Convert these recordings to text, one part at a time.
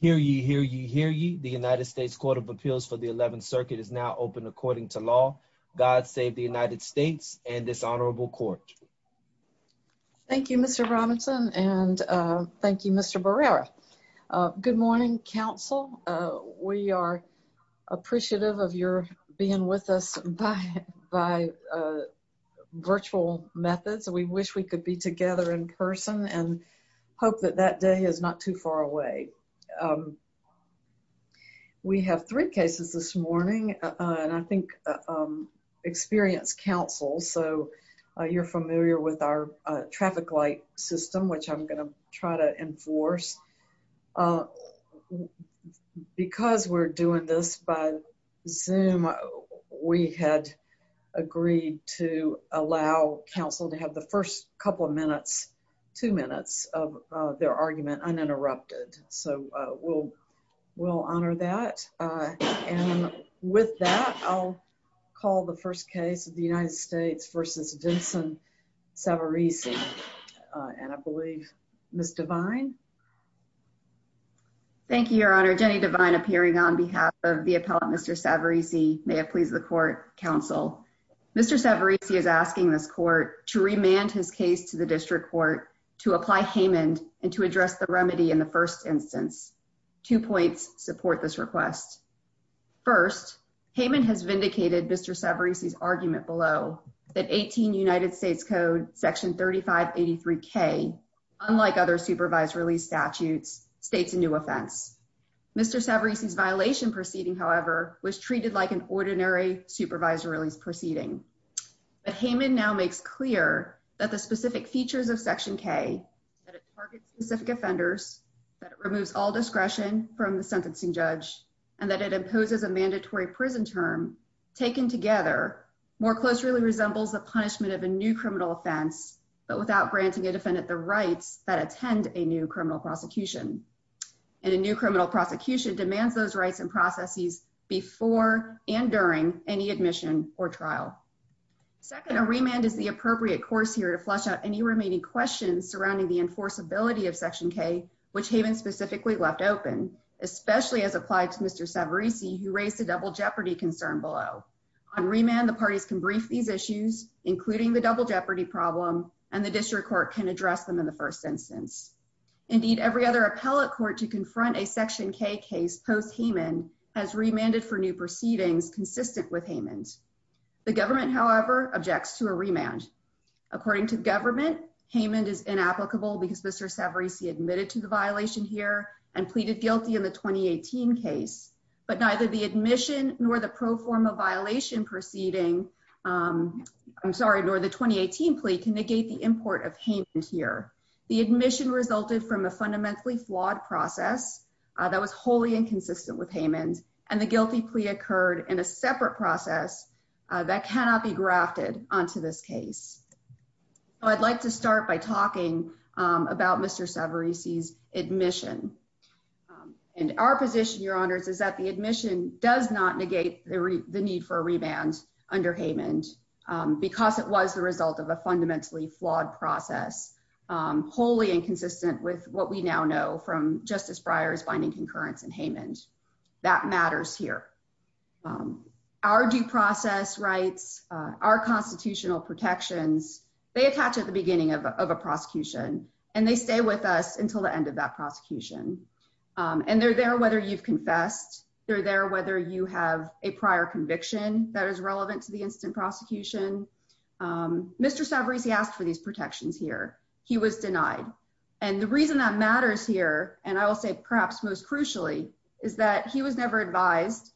Hear ye, hear ye, hear ye. The United States Court of Appeals for the 11th Circuit is now open according to law. God save the United States and this honorable court. Thank you, Mr. Robinson and thank you, Mr. Barrera. Good morning, Council. We are appreciative of your being with us by virtual methods. We wish we could be together in person and hope that that day is not too far away. We have three cases this morning and I think experienced counsel, so you're familiar with our traffic light system, which I'm going to try to enforce. Because we're doing this by Zoom, we had agreed to allow counsel to have the first couple of minutes, two minutes, of their argument uninterrupted. So we'll honor that and with that, I'll call the first case of the United States v. Vincent Savarese and I believe Ms. Devine. Thank you, Your Honor. Jenny Devine appearing on behalf of the appellant, Mr. Savarese, may it please the court, counsel. Mr. Savarese has asked the district court to remand his case to the district court to apply Haman and to address the remedy in the first instance. Two points support this request. First, Haman has vindicated Mr. Savarese's argument below that 18 United States Code section 3583k, unlike other supervised release statutes, states a new offense. Mr. Savarese's violation proceeding, however, was treated like an ordinary supervised release proceeding. But Haman now makes clear that the specific features of section k, that it targets specific offenders, that it removes all discretion from the sentencing judge, and that it imposes a mandatory prison term taken together more closely resembles the punishment of a new criminal offense, but without granting a defendant the rights that attend a new criminal prosecution. And a new criminal prosecution demands those rights and processes before and during any admission or trial. Second, a remand is the appropriate course here to flush out any remaining questions surrounding the enforceability of section k, which Haman specifically left open, especially as applied to Mr. Savarese, who raised a double jeopardy concern below. On remand, the parties can brief these issues, including the double jeopardy problem, and the district court can address them in the first instance. Indeed, every other appellate court to confront a section k case post-Haman has remanded for new proceedings consistent with Haman's. The government, however, objects to a remand. According to the government, Haman is inapplicable because Mr. Savarese admitted to the violation here and pleaded guilty in the 2018 case, but neither the admission nor the pro forma violation proceeding, I'm sorry, nor the 2018 plea can negate the import of Haman here. The admission resulted from a fundamentally flawed process that was wholly inconsistent with Haman, and the guilty plea occurred in a separate process that cannot be grafted onto this case. I'd like to start by talking about Mr. Savarese's admission, and our position, your honors, is that the admission does not negate the need for a remand under Haman because it was the result of a fundamentally flawed process, wholly inconsistent with what we now know from Justice Breyer's binding concurrence in Haman. That matters here. Our due process rights, our constitutional protections, they attach at the beginning of a prosecution, and they stay with us until the end of that prosecution, and they're there whether you've confessed, they're there whether you have a prior conviction that is relevant to the instant prosecution. Mr. Savarese asked for these protections here. He was denied, and the reason that matters here, and I will say perhaps most crucially, is that he was never advised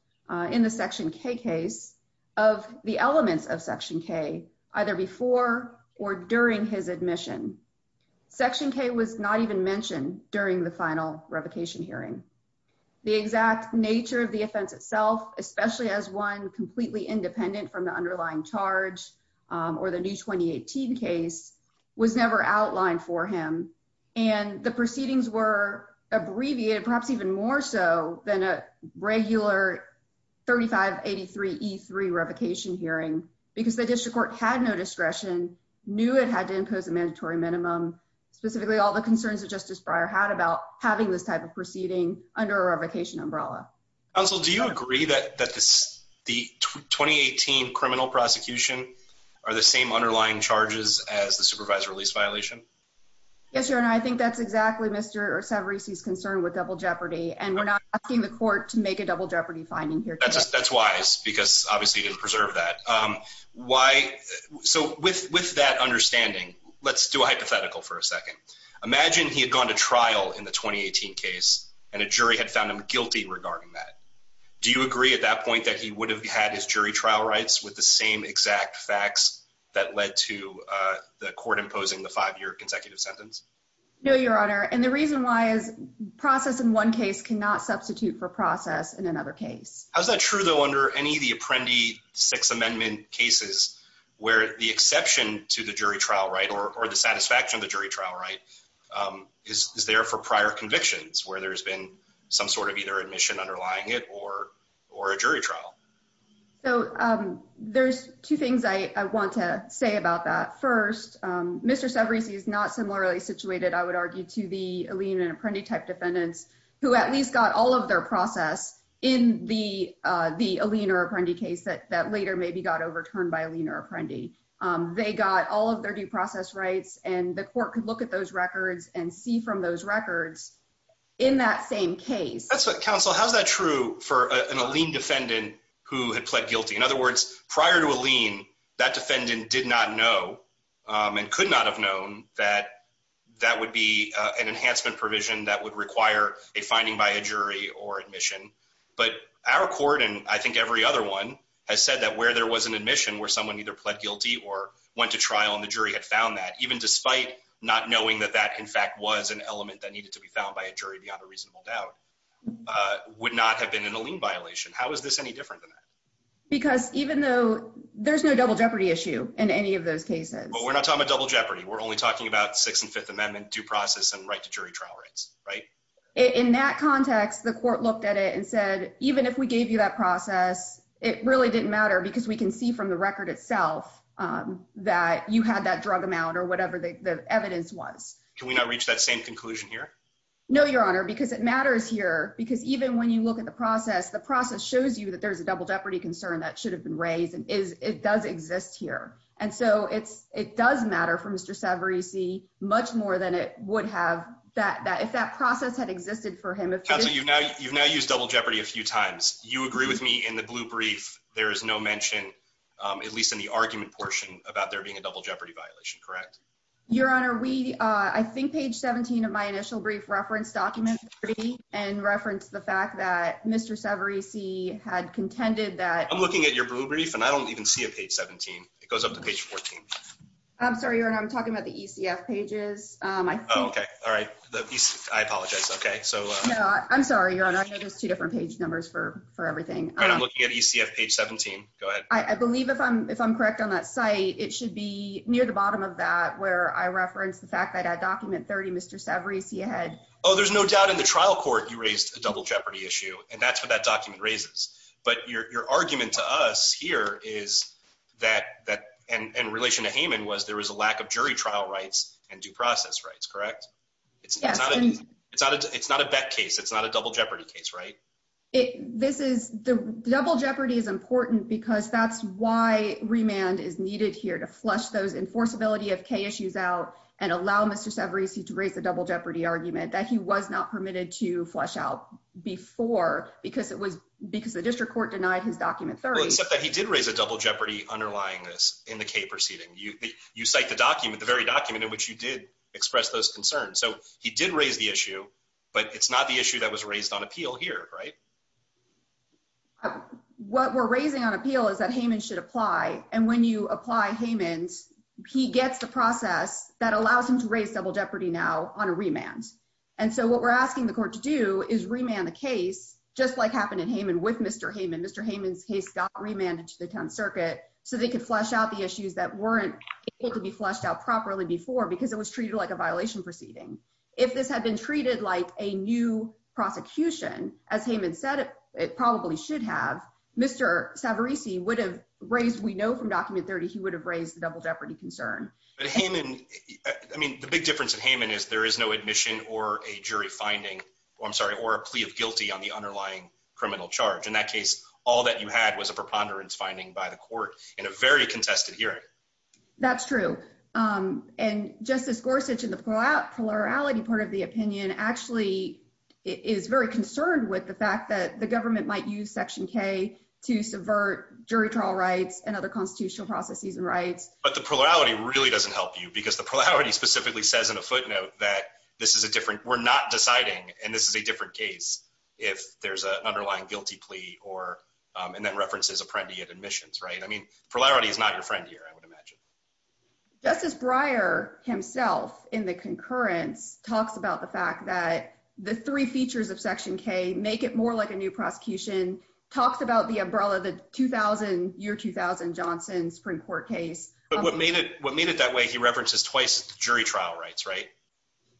in the Section K case of the elements of Section K, either before or during his admission. Section K was not even mentioned during the final revocation hearing. The exact nature of the offense itself, especially as one completely independent from the underlying charge or the new 2018 case, was never outlined for him, and the proceedings were abbreviated perhaps even more so than a regular 3583E3 revocation hearing because the district court had no discretion, knew it had to impose a mandatory minimum, specifically all the concerns that Justice Breyer had about having this type of proceeding under a revocation umbrella. Counsel, do you agree that the 2018 criminal prosecution are the same underlying charges as the supervisor release violation? Yes, your honor. I think that's exactly Mr. Savarese's concern with double jeopardy, and we're not asking the court to make a double jeopardy finding here. That's wise because obviously he didn't preserve that. So with that understanding, let's do a hypothetical for a second. Imagine he had gone to trial in the 2018 case and a jury had found him guilty regarding that. Do you agree at that point that he would have had his jury trial rights with the same exact facts that led to the court imposing the five-year consecutive sentence? No, your honor, and the reason why is process in one case cannot substitute for process in another case. How's that true though under any of the Apprendi Six Amendment cases where the exception to the jury trial right or the satisfaction of the where there's been some sort of either admission underlying it or or a jury trial? So there's two things I want to say about that. First, Mr. Savarese is not similarly situated, I would argue, to the Alene and Apprendi type defendants who at least got all of their process in the Alene or Apprendi case that later maybe got overturned by Alene or Apprendi. They got all of their due process rights and the court could look at those records and see from those records in that same case. That's what counsel, how's that true for an Alene defendant who had pled guilty? In other words, prior to Alene, that defendant did not know and could not have known that that would be an enhancement provision that would require a finding by a jury or admission. But our court and I think every other one has said that where there was an admission where someone either pled guilty or went to trial and the jury had found that even despite not knowing that that in fact was an enhancement provision that would require a finding by a jury beyond a reasonable doubt, would not have been an Alene violation. How is this any different than that? Because even though there's no double jeopardy issue in any of those cases. Well, we're not talking about double jeopardy. We're only talking about Sixth and Fifth Amendment due process and right to jury trial rights, right? In that context, the court looked at it and said even if we gave you that process, it really didn't matter because we can see from the record itself that you had that drug amount or the evidence was. Can we not reach that same conclusion here? No, Your Honor, because it matters here because even when you look at the process, the process shows you that there's a double jeopardy concern that should have been raised and it does exist here. And so it's it does matter for Mr. Savarese much more than it would have that if that process had existed for him. You've now used double jeopardy a few times. You agree with me in the blue brief there is no mention, at least in the Your Honor, we I think page 17 of my initial brief reference document pretty and reference the fact that Mr. Savarese had contended that I'm looking at your blue brief and I don't even see a page 17. It goes up to page 14. I'm sorry, Your Honor, I'm talking about the ECF pages. Okay, all right. I apologize. Okay, so no, I'm sorry, Your Honor. There's two different page numbers for for everything. I'm looking at ECF page 17. Go ahead. I believe if I'm if I'm correct on that site, it should be near the bottom of that where I reference the fact that I document 30 Mr. Savarese he had Oh, there's no doubt in the trial court. You raised a double jeopardy issue and that's what that document raises. But your argument to us here is that that in relation to Hayman was there was a lack of jury trial rights and due process rights, correct? It's not a it's not a it's not a bet case. It's not a double jeopardy case, right? It this is the double jeopardy is important because that's why remand is needed here to flush those enforceability of K issues out and allow Mr. Savarese to raise the double jeopardy argument that he was not permitted to flush out before because it was because the district court denied his document 30 except that he did raise a double jeopardy underlying this in the K proceeding. You you cite the document, the very document in which you did express those concerns. So he did raise the issue, but it's not the issue that was raised on appeal here, right? What we're raising on appeal is that Hayman should apply, and when you apply Hayman's, he gets the process that allows him to raise double jeopardy now on a remand. And so what we're asking the court to do is remand the case just like happened in Hayman with Mr. Hayman. Mr. Hayman's case got remanded to the town circuit so they could flush out the issues that weren't able to be flushed out properly before because it was treated like a violation proceeding. If this had been treated like a new prosecution, as Hayman said it probably should have, Mr. Savarese would have raised, we know from document 30, he would have raised the double jeopardy concern. But Hayman, I mean the big difference in Hayman is there is no admission or a jury finding, I'm sorry, or a plea of guilty on the underlying criminal charge. In that case all that you had was a preponderance finding by the court in a very contested hearing. That's true. And Justice Gorsuch in the plurality part of the opinion actually is very concerned with the fact that the government might use Section K to subvert jury trial rights and other constitutional processes and rights. But the plurality really doesn't help you because the plurality specifically says in a footnote that this is a different, we're not deciding, and this is a different case if there's an underlying guilty plea or, and that references apprendee at admissions, right? I mean plurality is not your friend here I would imagine. Justice Breyer himself in the concurrence talks about the fact that the three features of Section K make it more like a new prosecution, talks about the umbrella, the 2000, year 2000 Johnson Supreme Court case. But what made it, what made it that way he references twice jury trial rights, right?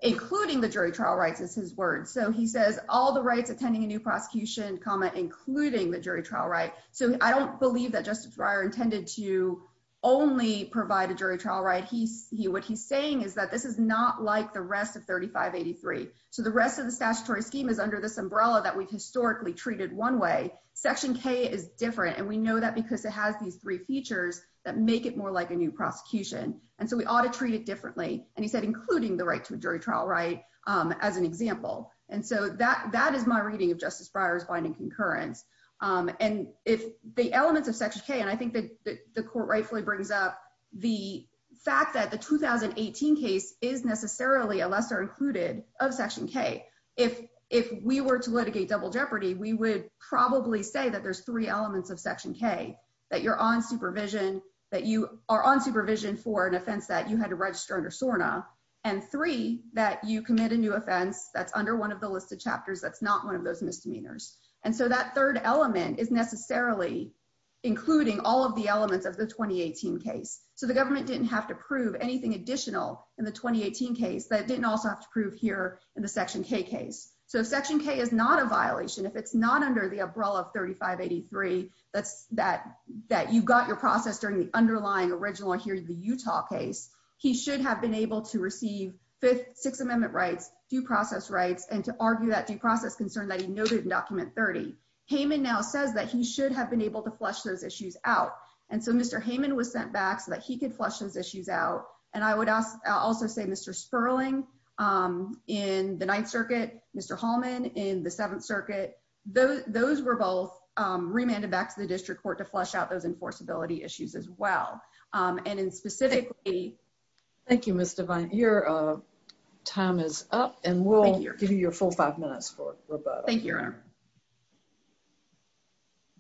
Including the jury trial rights is his word. So he says all the rights attending a new prosecution, including the jury trial right. So I don't believe that Justice Breyer intended to only provide a jury trial right. He, what he's saying is that this is not like the rest of 3583. So the rest of the statutory scheme is under this umbrella that we've historically treated one way. Section K is different and we know that because it has these three features that make it more like a new prosecution. And so we ought to treat it differently and he said including the right to a jury trial right as an example. And so that, that is my reading of Justice Breyer's binding concurrence. And if the elements of Section K, and I think that the court rightfully brings up the fact that the 2018 case is necessarily a lesser included of Section K. If, if we were to litigate double jeopardy, we would probably say that there's three elements of Section K. That you're on supervision, that you are on supervision for an offense that you had to register under SORNA. And three, that you commit a new offense that's under one of the listed chapters that's not one of those misdemeanors. And so that third element is necessarily including all of the elements of the 2018 case. So the government didn't have to prove anything additional in the 2018 case that it didn't also have to prove here in the Section K case. So if Section K is not a violation, if it's not under the umbrella of 3583, that's that, that you've got your process during the underlying original here in the Utah case, he should have been able to receive fifth, sixth amendment rights, due process rights, and to argue that due process concern that he noted in Amendment 30. Heyman now says that he should have been able to flush those issues out. And so Mr. Heyman was sent back so that he could flush those issues out. And I would also say Mr. Sperling in the Ninth Circuit, Mr. Hallman in the Seventh Circuit, those were both remanded back to the district court to flush out those enforceability issues as well. And in specifically... Thank you, Ms. Devine. Your time is up and we'll give you your full five minutes for rebuttal. Thank you, Your Honor.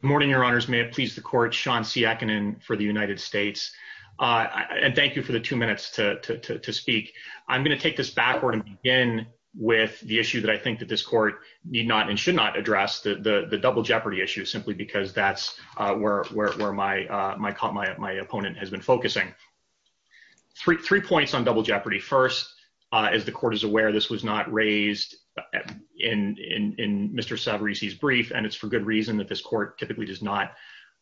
Good morning, Your Honors. May it please the court, Sean Siakonin for the United States. And thank you for the two minutes to speak. I'm going to take this backward and begin with the issue that I think that this court need not and should not address, the double jeopardy issue, simply because that's where my opponent has been focusing. Three points on double jeopardy. First, as the court is aware, this was not raised in Mr. Savarese's brief and it's for good reason that this court typically does not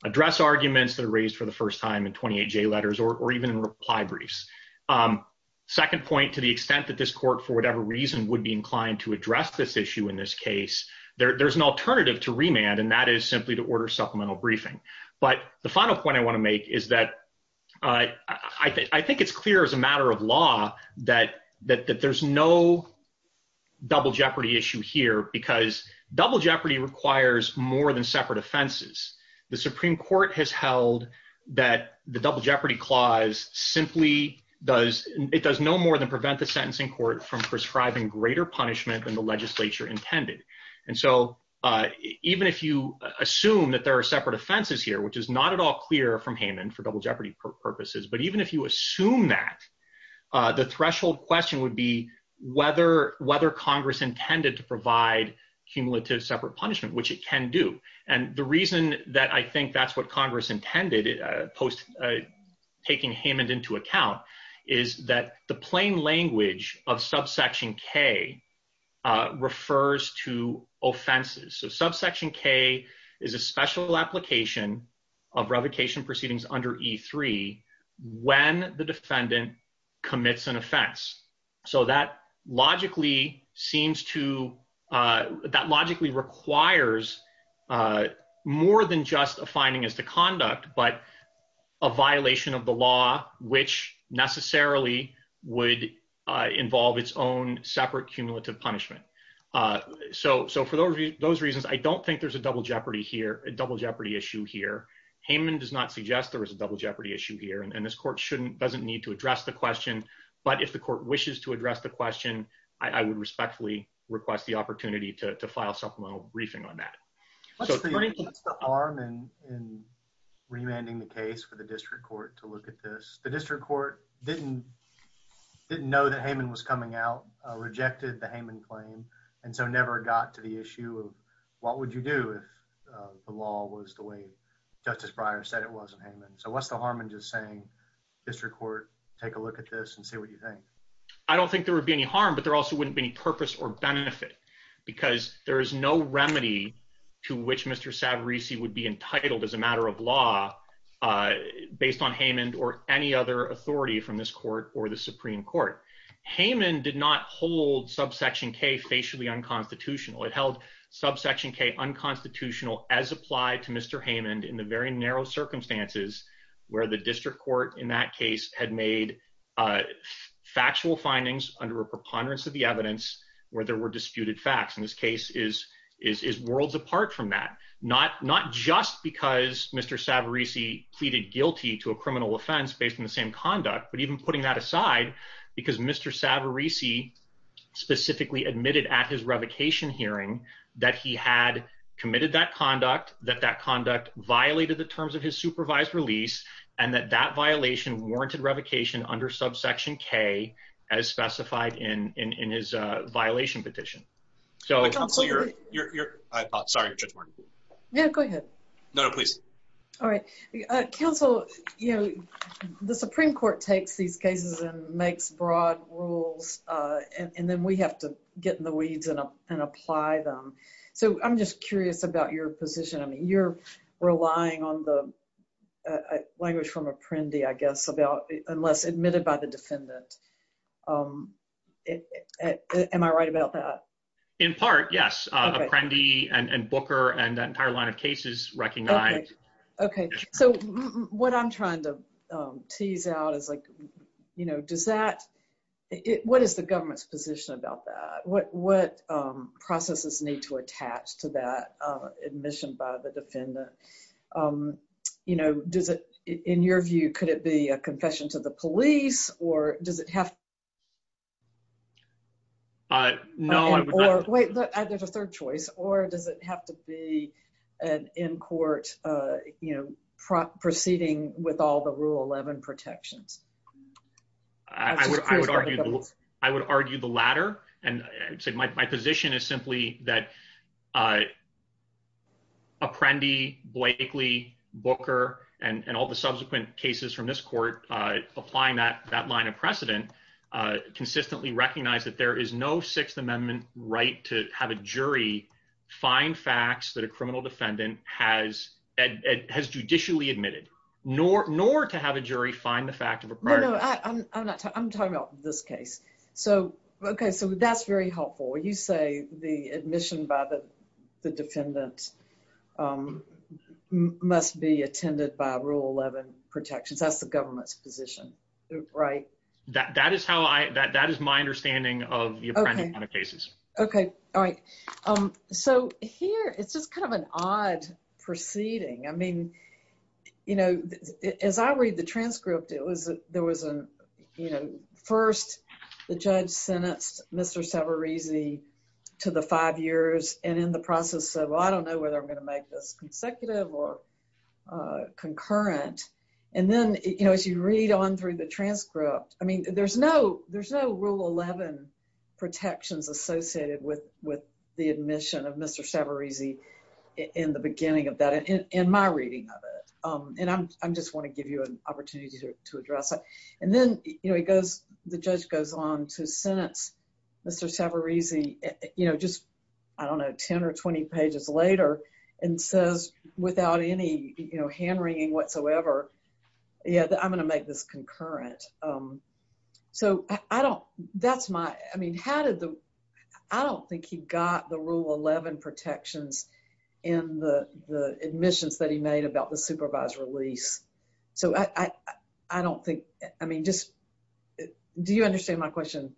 address arguments that are raised for the first time in 28J letters or even in reply briefs. Second point, to the extent that this court, for whatever reason, would be inclined to address this issue in this case, there's an alternative to remand and that is simply to order supplemental briefing. But the final point I want to make is that I think it's clear as a matter of double jeopardy issue here because double jeopardy requires more than separate offenses. The Supreme Court has held that the double jeopardy clause simply does, it does no more than prevent the sentencing court from prescribing greater punishment than the legislature intended. And so even if you assume that there are separate offenses here, which is not at all clear from Haman for double jeopardy purposes, but even if you assume that, the threshold question would be whether Congress intended to provide cumulative separate punishment, which it can do. And the reason that I think that's what Congress intended, post taking Haman into account, is that the plain language of subsection k refers to offenses. So subsection k is a special application of the defendant commits an offense. So that logically seems to, that logically requires more than just a finding as to conduct, but a violation of the law which necessarily would involve its own separate cumulative punishment. So for those reasons, I don't think there's a double jeopardy here, a double jeopardy issue here. Haman does not suggest there is a double jeopardy issue here, and this court shouldn't, doesn't need to address the question. But if the court wishes to address the question, I would respectfully request the opportunity to file supplemental briefing on that. What's the harm in remanding the case for the district court to look at this? The district court didn't know that Haman was coming out, rejected the Haman claim, and so never got to the issue of what would you do if the law was the way Justice Breyer said it was in Haman. So what's the harm in just saying district court take a look at this and see what you think? I don't think there would be any harm, but there also wouldn't be any purpose or benefit because there is no remedy to which Mr. Savarese would be entitled as a matter of law based on Haman or any other authority from this court or the Supreme Court. Haman did not hold subsection k facially unconstitutional. It held subsection k unconstitutional as applied to Mr. Haman in the very narrow circumstances where the district court in that case had made factual findings under a preponderance of the evidence where there were disputed facts. And this case is worlds apart from that. Not just because Mr. Savarese pleaded guilty to a criminal offense based on the same conduct, but even putting that aside because Mr. Savarese specifically admitted at his revocation hearing that he had committed that conduct, that that conduct violated the terms of his supervised release, and that that violation warranted revocation under subsection k as specified in his violation petition. Counsel, you're... I apologize, sorry. Yeah, go ahead. No, no, please. All right. Counsel, you know, the Supreme Court takes these cases and makes broad rules, and then we have to get in the weeds and apply them. So I'm just curious about your position. I mean, you're relying on the language from apprendee, I guess, about unless admitted by the defendant. Am I right about that? In part, yes. Apprendee and Booker and that entire line of cases recognize... Okay, so what I'm trying to tease out is like, you know, does that... What is the government's position about that? What processes need to attach to that admission by the defendant? You know, does it... In your view, could it be a confession to the police or does it have... No, I would not... Wait, there's a third choice. Or does it have to be an in-court, you know, proceeding with all the Rule 11 protections? I would argue the latter. And I'd say my position is simply that apprendee, Blakely, Booker, and all the subsequent cases from this court applying that line of precedent consistently recognize that there is no Sixth Amendment right to have a jury find facts that a criminal defendant has judicially admitted, nor to have a jury find the fact of a prior... No, no, I'm not... I'm talking about this case. So, okay, so that's very helpful. You say the admission by the defendant must be attended by Rule 11 protections. That's the government's position, right? That is how I... That is my understanding of the apprendee line of cases. Okay, all right. So here, it's just kind of an odd proceeding. I mean, you know, as I read the transcript, it was... there was a, you know, first the judge sentenced Mr. Savarese to the five years and in the process of, well, I don't know whether I'm going to make this consecutive or concurrent. And then, you know, as you read on through the transcript, I mean, there's no... there's no Rule 11 protections associated with the admission of Mr. Savarese in the beginning of that, in my reading of it. And I'm... I just want to give you an opportunity to address that. And then, you know, it goes... the judge goes on to sentence Mr. Savarese, you know, just, I don't know, 10 or 20 pages later, and says without any, you know, hand-wringing whatsoever, yeah, I'm going to make this concurrent. So I don't... that's my... I mean, how did the... I don't think he got the Rule 11 protections in the admissions that he made about the supervised release. So I don't think... I mean, just... do you understand my question?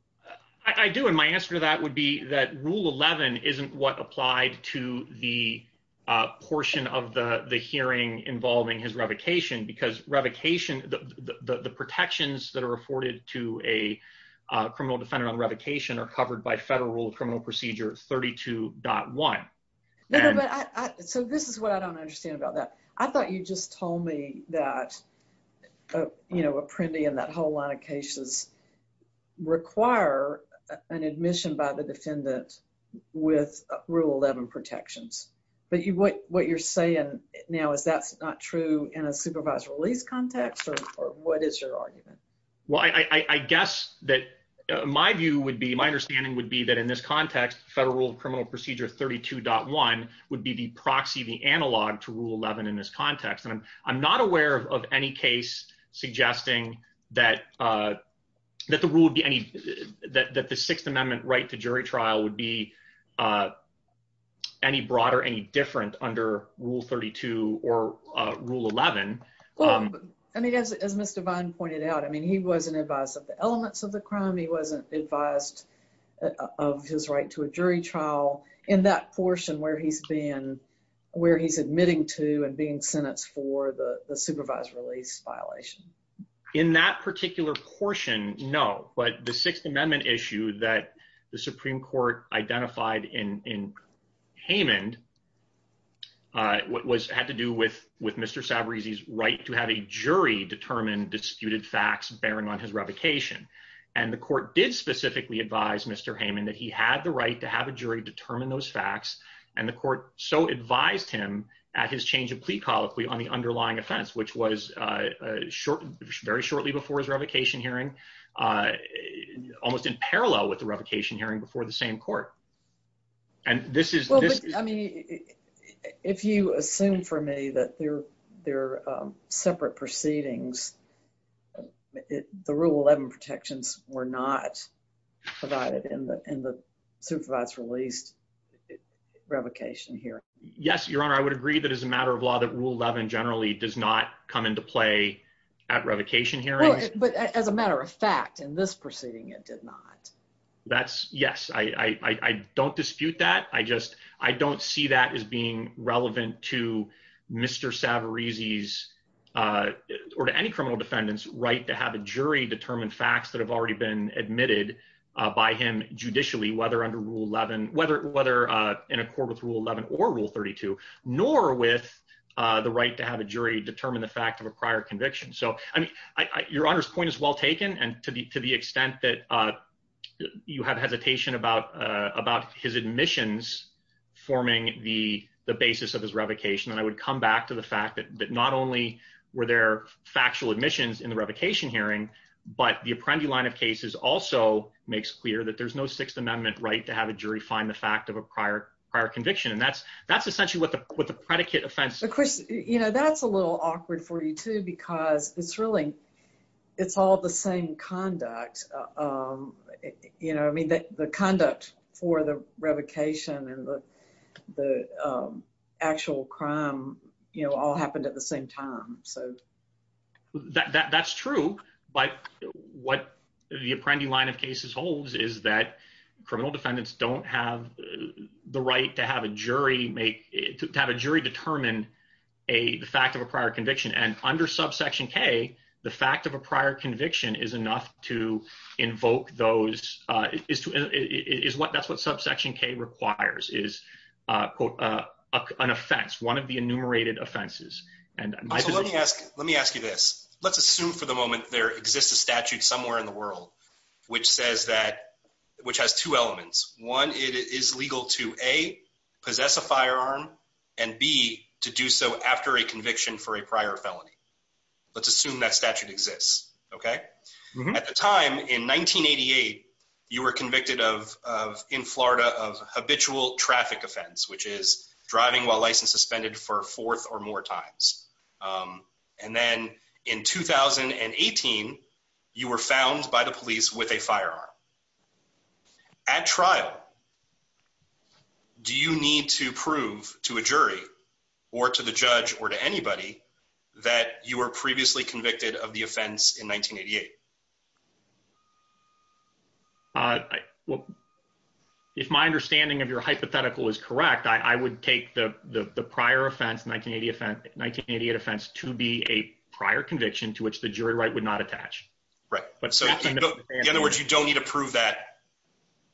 I do, and my answer to that would be that Rule 11 isn't what applied to the portion of the hearing involving his revocation, because revocation... the protections that are afforded to a criminal defendant on revocation are covered by Federal Rule of Criminal Procedure 32.1. No, but I... so this is what I don't understand about that. I thought you just told me that, you know, Apprendi and that whole line of cases require an admission by the defendant with Rule 11 protections. But you... what you're saying now is that's not true in a supervised release context, or what is your argument? Well, I guess that my view would be... my understanding would be that in this context, Federal Rule of Criminal Procedure 32.1 would be the proxy, the analog to Rule 11 in this context, and I'm not aware of any case suggesting that the rule would be any... that the Sixth Amendment right to jury trial would be any broader, any different under Rule 32 or Rule 11. Well, I mean, as Mr. Vine pointed out, I mean, he wasn't advised of the elements of the crime, he wasn't advised of his right to a jury trial in that portion where he's been... where he's admitting to and being sentenced for the supervised release violation. In that particular portion, no, but the Sixth Amendment issue that the Supreme Court identified in Hamond had to do with Mr. Sabarese's right to have a jury determine disputed facts bearing on his revocation, and the court did specifically advise Mr. Hamond that he had the right to have a jury determine those facts, and the court so advised him at his change of plea colloquy on the underlying offense, which was very shortly before his hearing before the same court, and this is... Well, I mean, if you assume for me that they're separate proceedings, the Rule 11 protections were not provided in the supervised released revocation hearing. Yes, Your Honor, I would agree that as a matter of law that Rule 11 generally does not come into play at revocation hearings. But as a matter of fact, in this case, yes, I don't dispute that. I just... I don't see that as being relevant to Mr. Sabarese's, or to any criminal defendant's, right to have a jury determine facts that have already been admitted by him judicially, whether under Rule 11, whether in accord with Rule 11 or Rule 32, nor with the right to have a jury determine the fact of a prior conviction. So, I mean, Your Honor's point is well taken, and to the extent that you have hesitation about his admissions forming the basis of his revocation, and I would come back to the fact that not only were there factual admissions in the revocation hearing, but the Apprendi line of cases also makes clear that there's no Sixth Amendment right to have a jury find the fact of a prior conviction. And that's essentially what the predicate offense... Of course, you know, that's a little awkward for you, too, because it's really, it's all the same conduct. You know, I mean, the conduct for the revocation and the actual crime, you know, all happened at the same time, so... That's true, but what the Apprendi line of cases holds is that criminal defendants don't have the right to have a jury make... to have a jury determine the fact of a prior conviction. And under subsection K, the fact of a prior conviction is enough to invoke those... That's what subsection K requires is an offense, one of the enumerated offenses. So let me ask you this. Let's assume for the moment there exists a statute somewhere in the world which says that... which has two elements. One, it is legal to A, possess a firearm, and B, to do so after a conviction for a prior felony. Let's assume that statute exists, okay? At the time, in 1988, you were convicted of... in Florida of habitual traffic offense, which is driving while license suspended for fourth or more times. And then in 2018, you were found by the police with a firearm. At trial, do you need to prove to a jury or to the judge or to anybody that you were previously convicted of the offense in 1988? Uh, well, if my understanding of your hypothetical is correct, I would take the the prior offense, 1980 offense... 1988 offense to be a prior conviction to which the jury right would not attach. Right. But so... In other words, you don't need a to prove that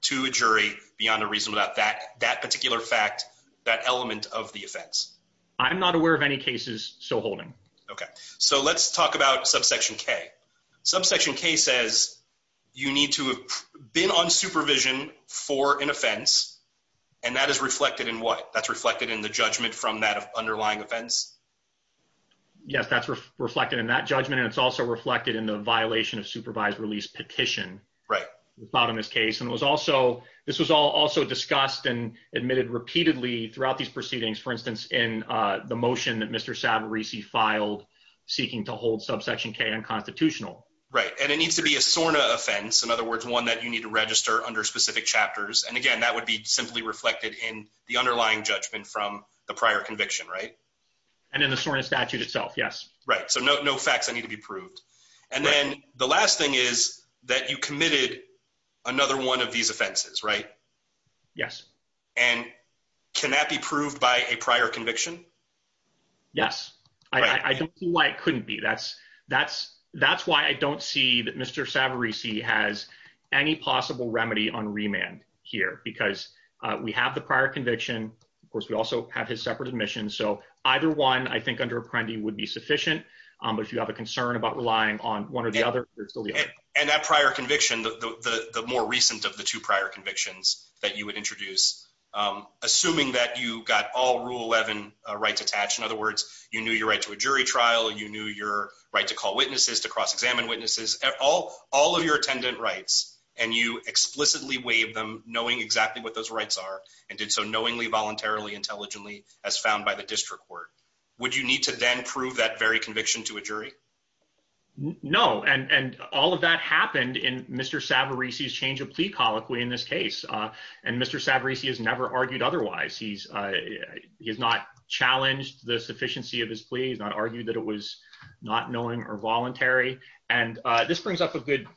to a jury beyond a reason without that... that particular fact, that element of the offense. I'm not aware of any cases still holding. Okay. So let's talk about subsection K. Subsection K says you need to have been on supervision for an offense, and that is reflected in what? That's reflected in the judgment from that underlying offense? Yes, that's reflected in that judgment, and it's also reflected in the violation of supervised release petition. Right. About in this case, and was also... this was all also discussed and admitted repeatedly throughout these proceedings. For instance, in the motion that Mr. Savarese filed seeking to hold subsection K unconstitutional. Right, and it needs to be a SORNA offense. In other words, one that you need to register under specific chapters, and again, that would be simply reflected in the underlying judgment from the prior conviction, right? And in the SORNA statute itself, yes. Right, so no facts that need to be proved. And then the last thing is that you committed another one of these offenses, right? Yes. And can that be proved by a prior conviction? Yes, I don't see why it couldn't be. That's why I don't see that Mr. Savarese has any possible remedy on remand here, because we have the prior conviction. Of course, we also have his separate admission. So either one, I think, under Apprendi would be sufficient, but if you have a concern about relying on one or the other, there's still the other. And that prior conviction, the more recent of the two prior convictions that you would introduce, assuming that you got all Rule 11 rights attached, in other words, you knew your right to a jury trial, you knew your right to call witnesses, to cross-examine witnesses, all of your attendant rights, and you explicitly waived them knowing exactly what those rights are, and did so knowingly, voluntarily, intelligently, as found by the district court. Would you need to then prove that very conviction to a jury? No. And all of that happened in Mr. Savarese's change of plea colloquy in this case. And Mr. Savarese has never argued otherwise. He's not challenged the sufficiency of his plea. He's not argued that it was not knowing or voluntary. And this brings up a good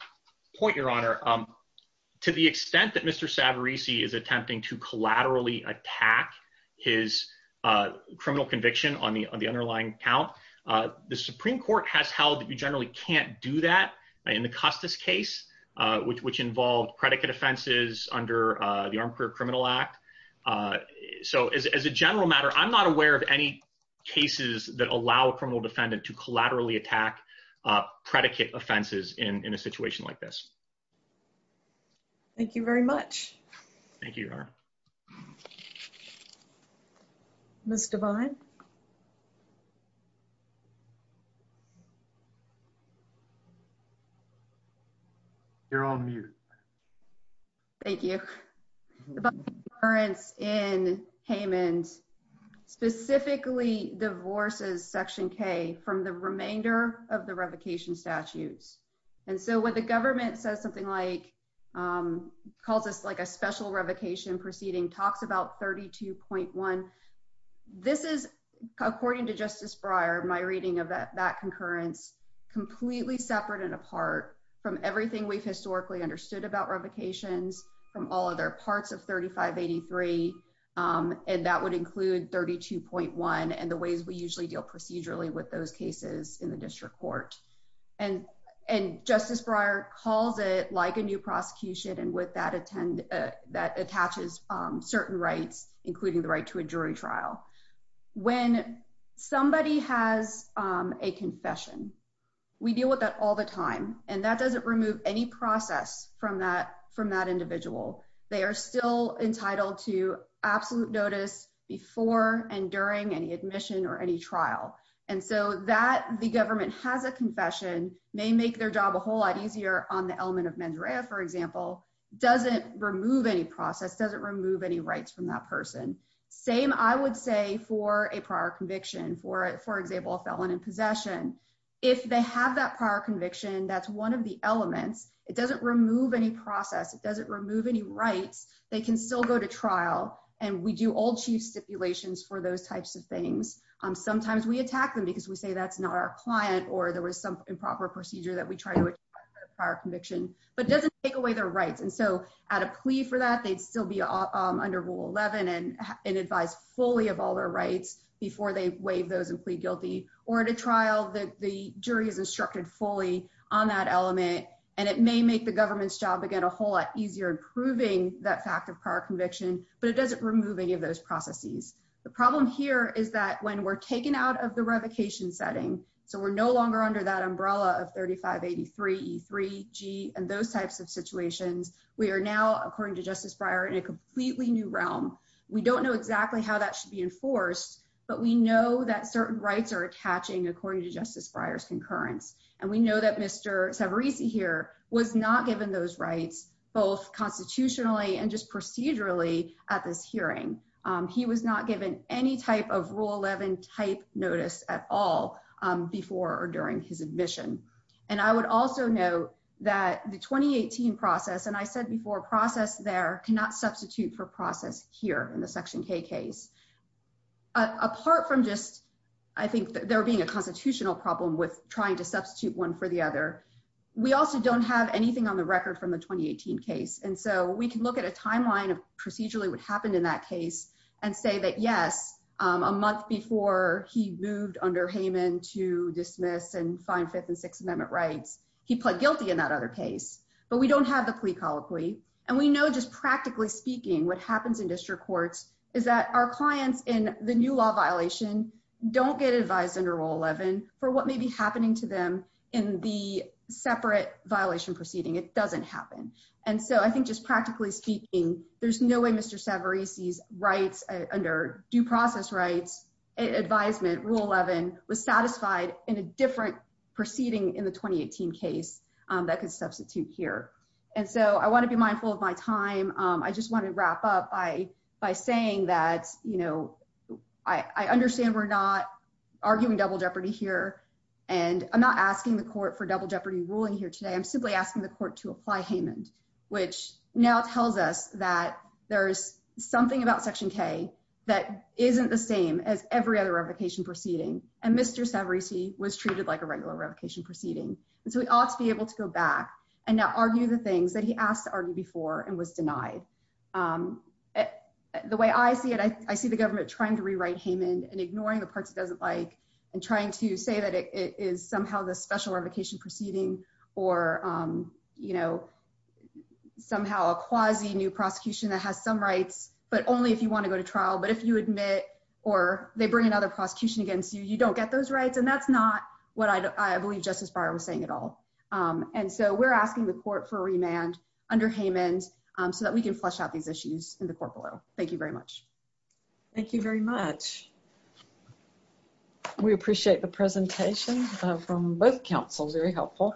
point, Your Honor. To the extent that Mr. Savarese is attempting to the Supreme Court has held that you generally can't do that in the Custis case, which involved predicate offenses under the Armed Career Criminal Act. So as a general matter, I'm not aware of any cases that allow a criminal defendant to collaterally attack predicate offenses in a situation like this. Thank you very much. Thank you, Your Honor. Ms. Devine? You're on mute. Thank you. The public appearance in Haymond specifically divorces Section K from the remainder of the revocation statutes. And so when the government says something like, calls this like a special revocation proceeding, talks about 32.1, this is, according to Justice Breyer, my reading of that concurrence completely separate and apart from everything we've historically understood about revocations from all other parts of 3583. And that would include 32.1 and the ways we usually deal procedurally with those cases in the district court. And Justice Breyer calls it like a new prosecution and with that attaches certain rights, including the right to a jury trial. When somebody has a confession, we deal with that all the time. And that doesn't remove any process from that individual. They are still entitled to absolute notice before and during any admission or any trial. And so that the government has a confession may make their job a whole lot easier on the element of mens rea, for example, doesn't remove any process, doesn't remove any rights from that person. Same I would say for a prior conviction, for example, a felon in possession. If they have that prior conviction, that's one of the elements. It doesn't remove any process, it doesn't remove any rights. They can still go to trial and we do old chief stipulations for those types of things. Sometimes we attack them because we say that's not our client or there was some improper procedure that we try to attack for a prior conviction. But it doesn't take away their rights. And so at a plea for that, they'd still be under Rule 11 and advised fully of all their rights before they waive those and plead guilty. Or at a trial, the jury is instructed fully on that element and it may make the government's job again a whole lot easier in proving that fact of prior conviction, but it doesn't remove any of those processes. The problem here is that when we're taken out of the revocation setting, so we're no longer under that umbrella of 3583 G and those types of situations, we are now, according to Justice Breyer, in a completely new realm. We don't know exactly how that should be enforced, but we know that certain rights are attaching according to Justice Breyer's concurrence. And we know that Mr. Savarese here was not given those rights, both constitutionally and just procedurally, at this hearing. He was not given any type of Rule 11 type notice at all before or during his admission. And I would also note that the 2018 process, and I said before, process there cannot substitute for process here in the Section K case. Apart from just, I think, there being a constitutional problem with trying to substitute one for the other, we also don't have anything on the record from the 2018 case. And so, we can look at a timeline of procedurally what happened in that case and say that, yes, a month before he moved under Hayman to dismiss and find Fifth and Sixth Amendment rights, he pled guilty in that other case. But we don't have the plea colloquy. And we know, just practically speaking, what happens in district courts is that our clients in the new law violation don't get advised under Rule 11 for what may be happening to them in the separate violation proceeding. It doesn't happen. And so, I think, just practically speaking, there's no way Mr. Savarese's rights under due process rights advisement, Rule 11, was satisfied in a different proceeding in the 2018 case that could substitute here. And so, I want to be mindful of my time. I just want to wrap up by by saying that, you know, I understand we're not arguing double jeopardy here. And I'm not asking the court for double jeopardy ruling here today. I'm simply asking the court to apply Hayman, which now tells us that there's something about Section K that isn't the same as every other revocation proceeding. And Mr. Savarese was treated like a regular revocation proceeding. And so, we ought to be able to go back and now argue the things that he asked to argue before and was denied. The way I see it, I see the government trying to rewrite Hayman and ignoring the parts it doesn't like and trying to say that it is somehow the special revocation proceeding or, you know, somehow a quasi new prosecution that has some rights, but only if you want to go to trial. But if you admit or they bring another prosecution against you, you don't get those rights. And that's not what I believe Justice Breyer was saying at all. And so, we're asking the court for remand under Hayman so that we can flush out these issues in the court below. Thank you very much. Thank you very much. We appreciate the presentation from both councils. Very helpful.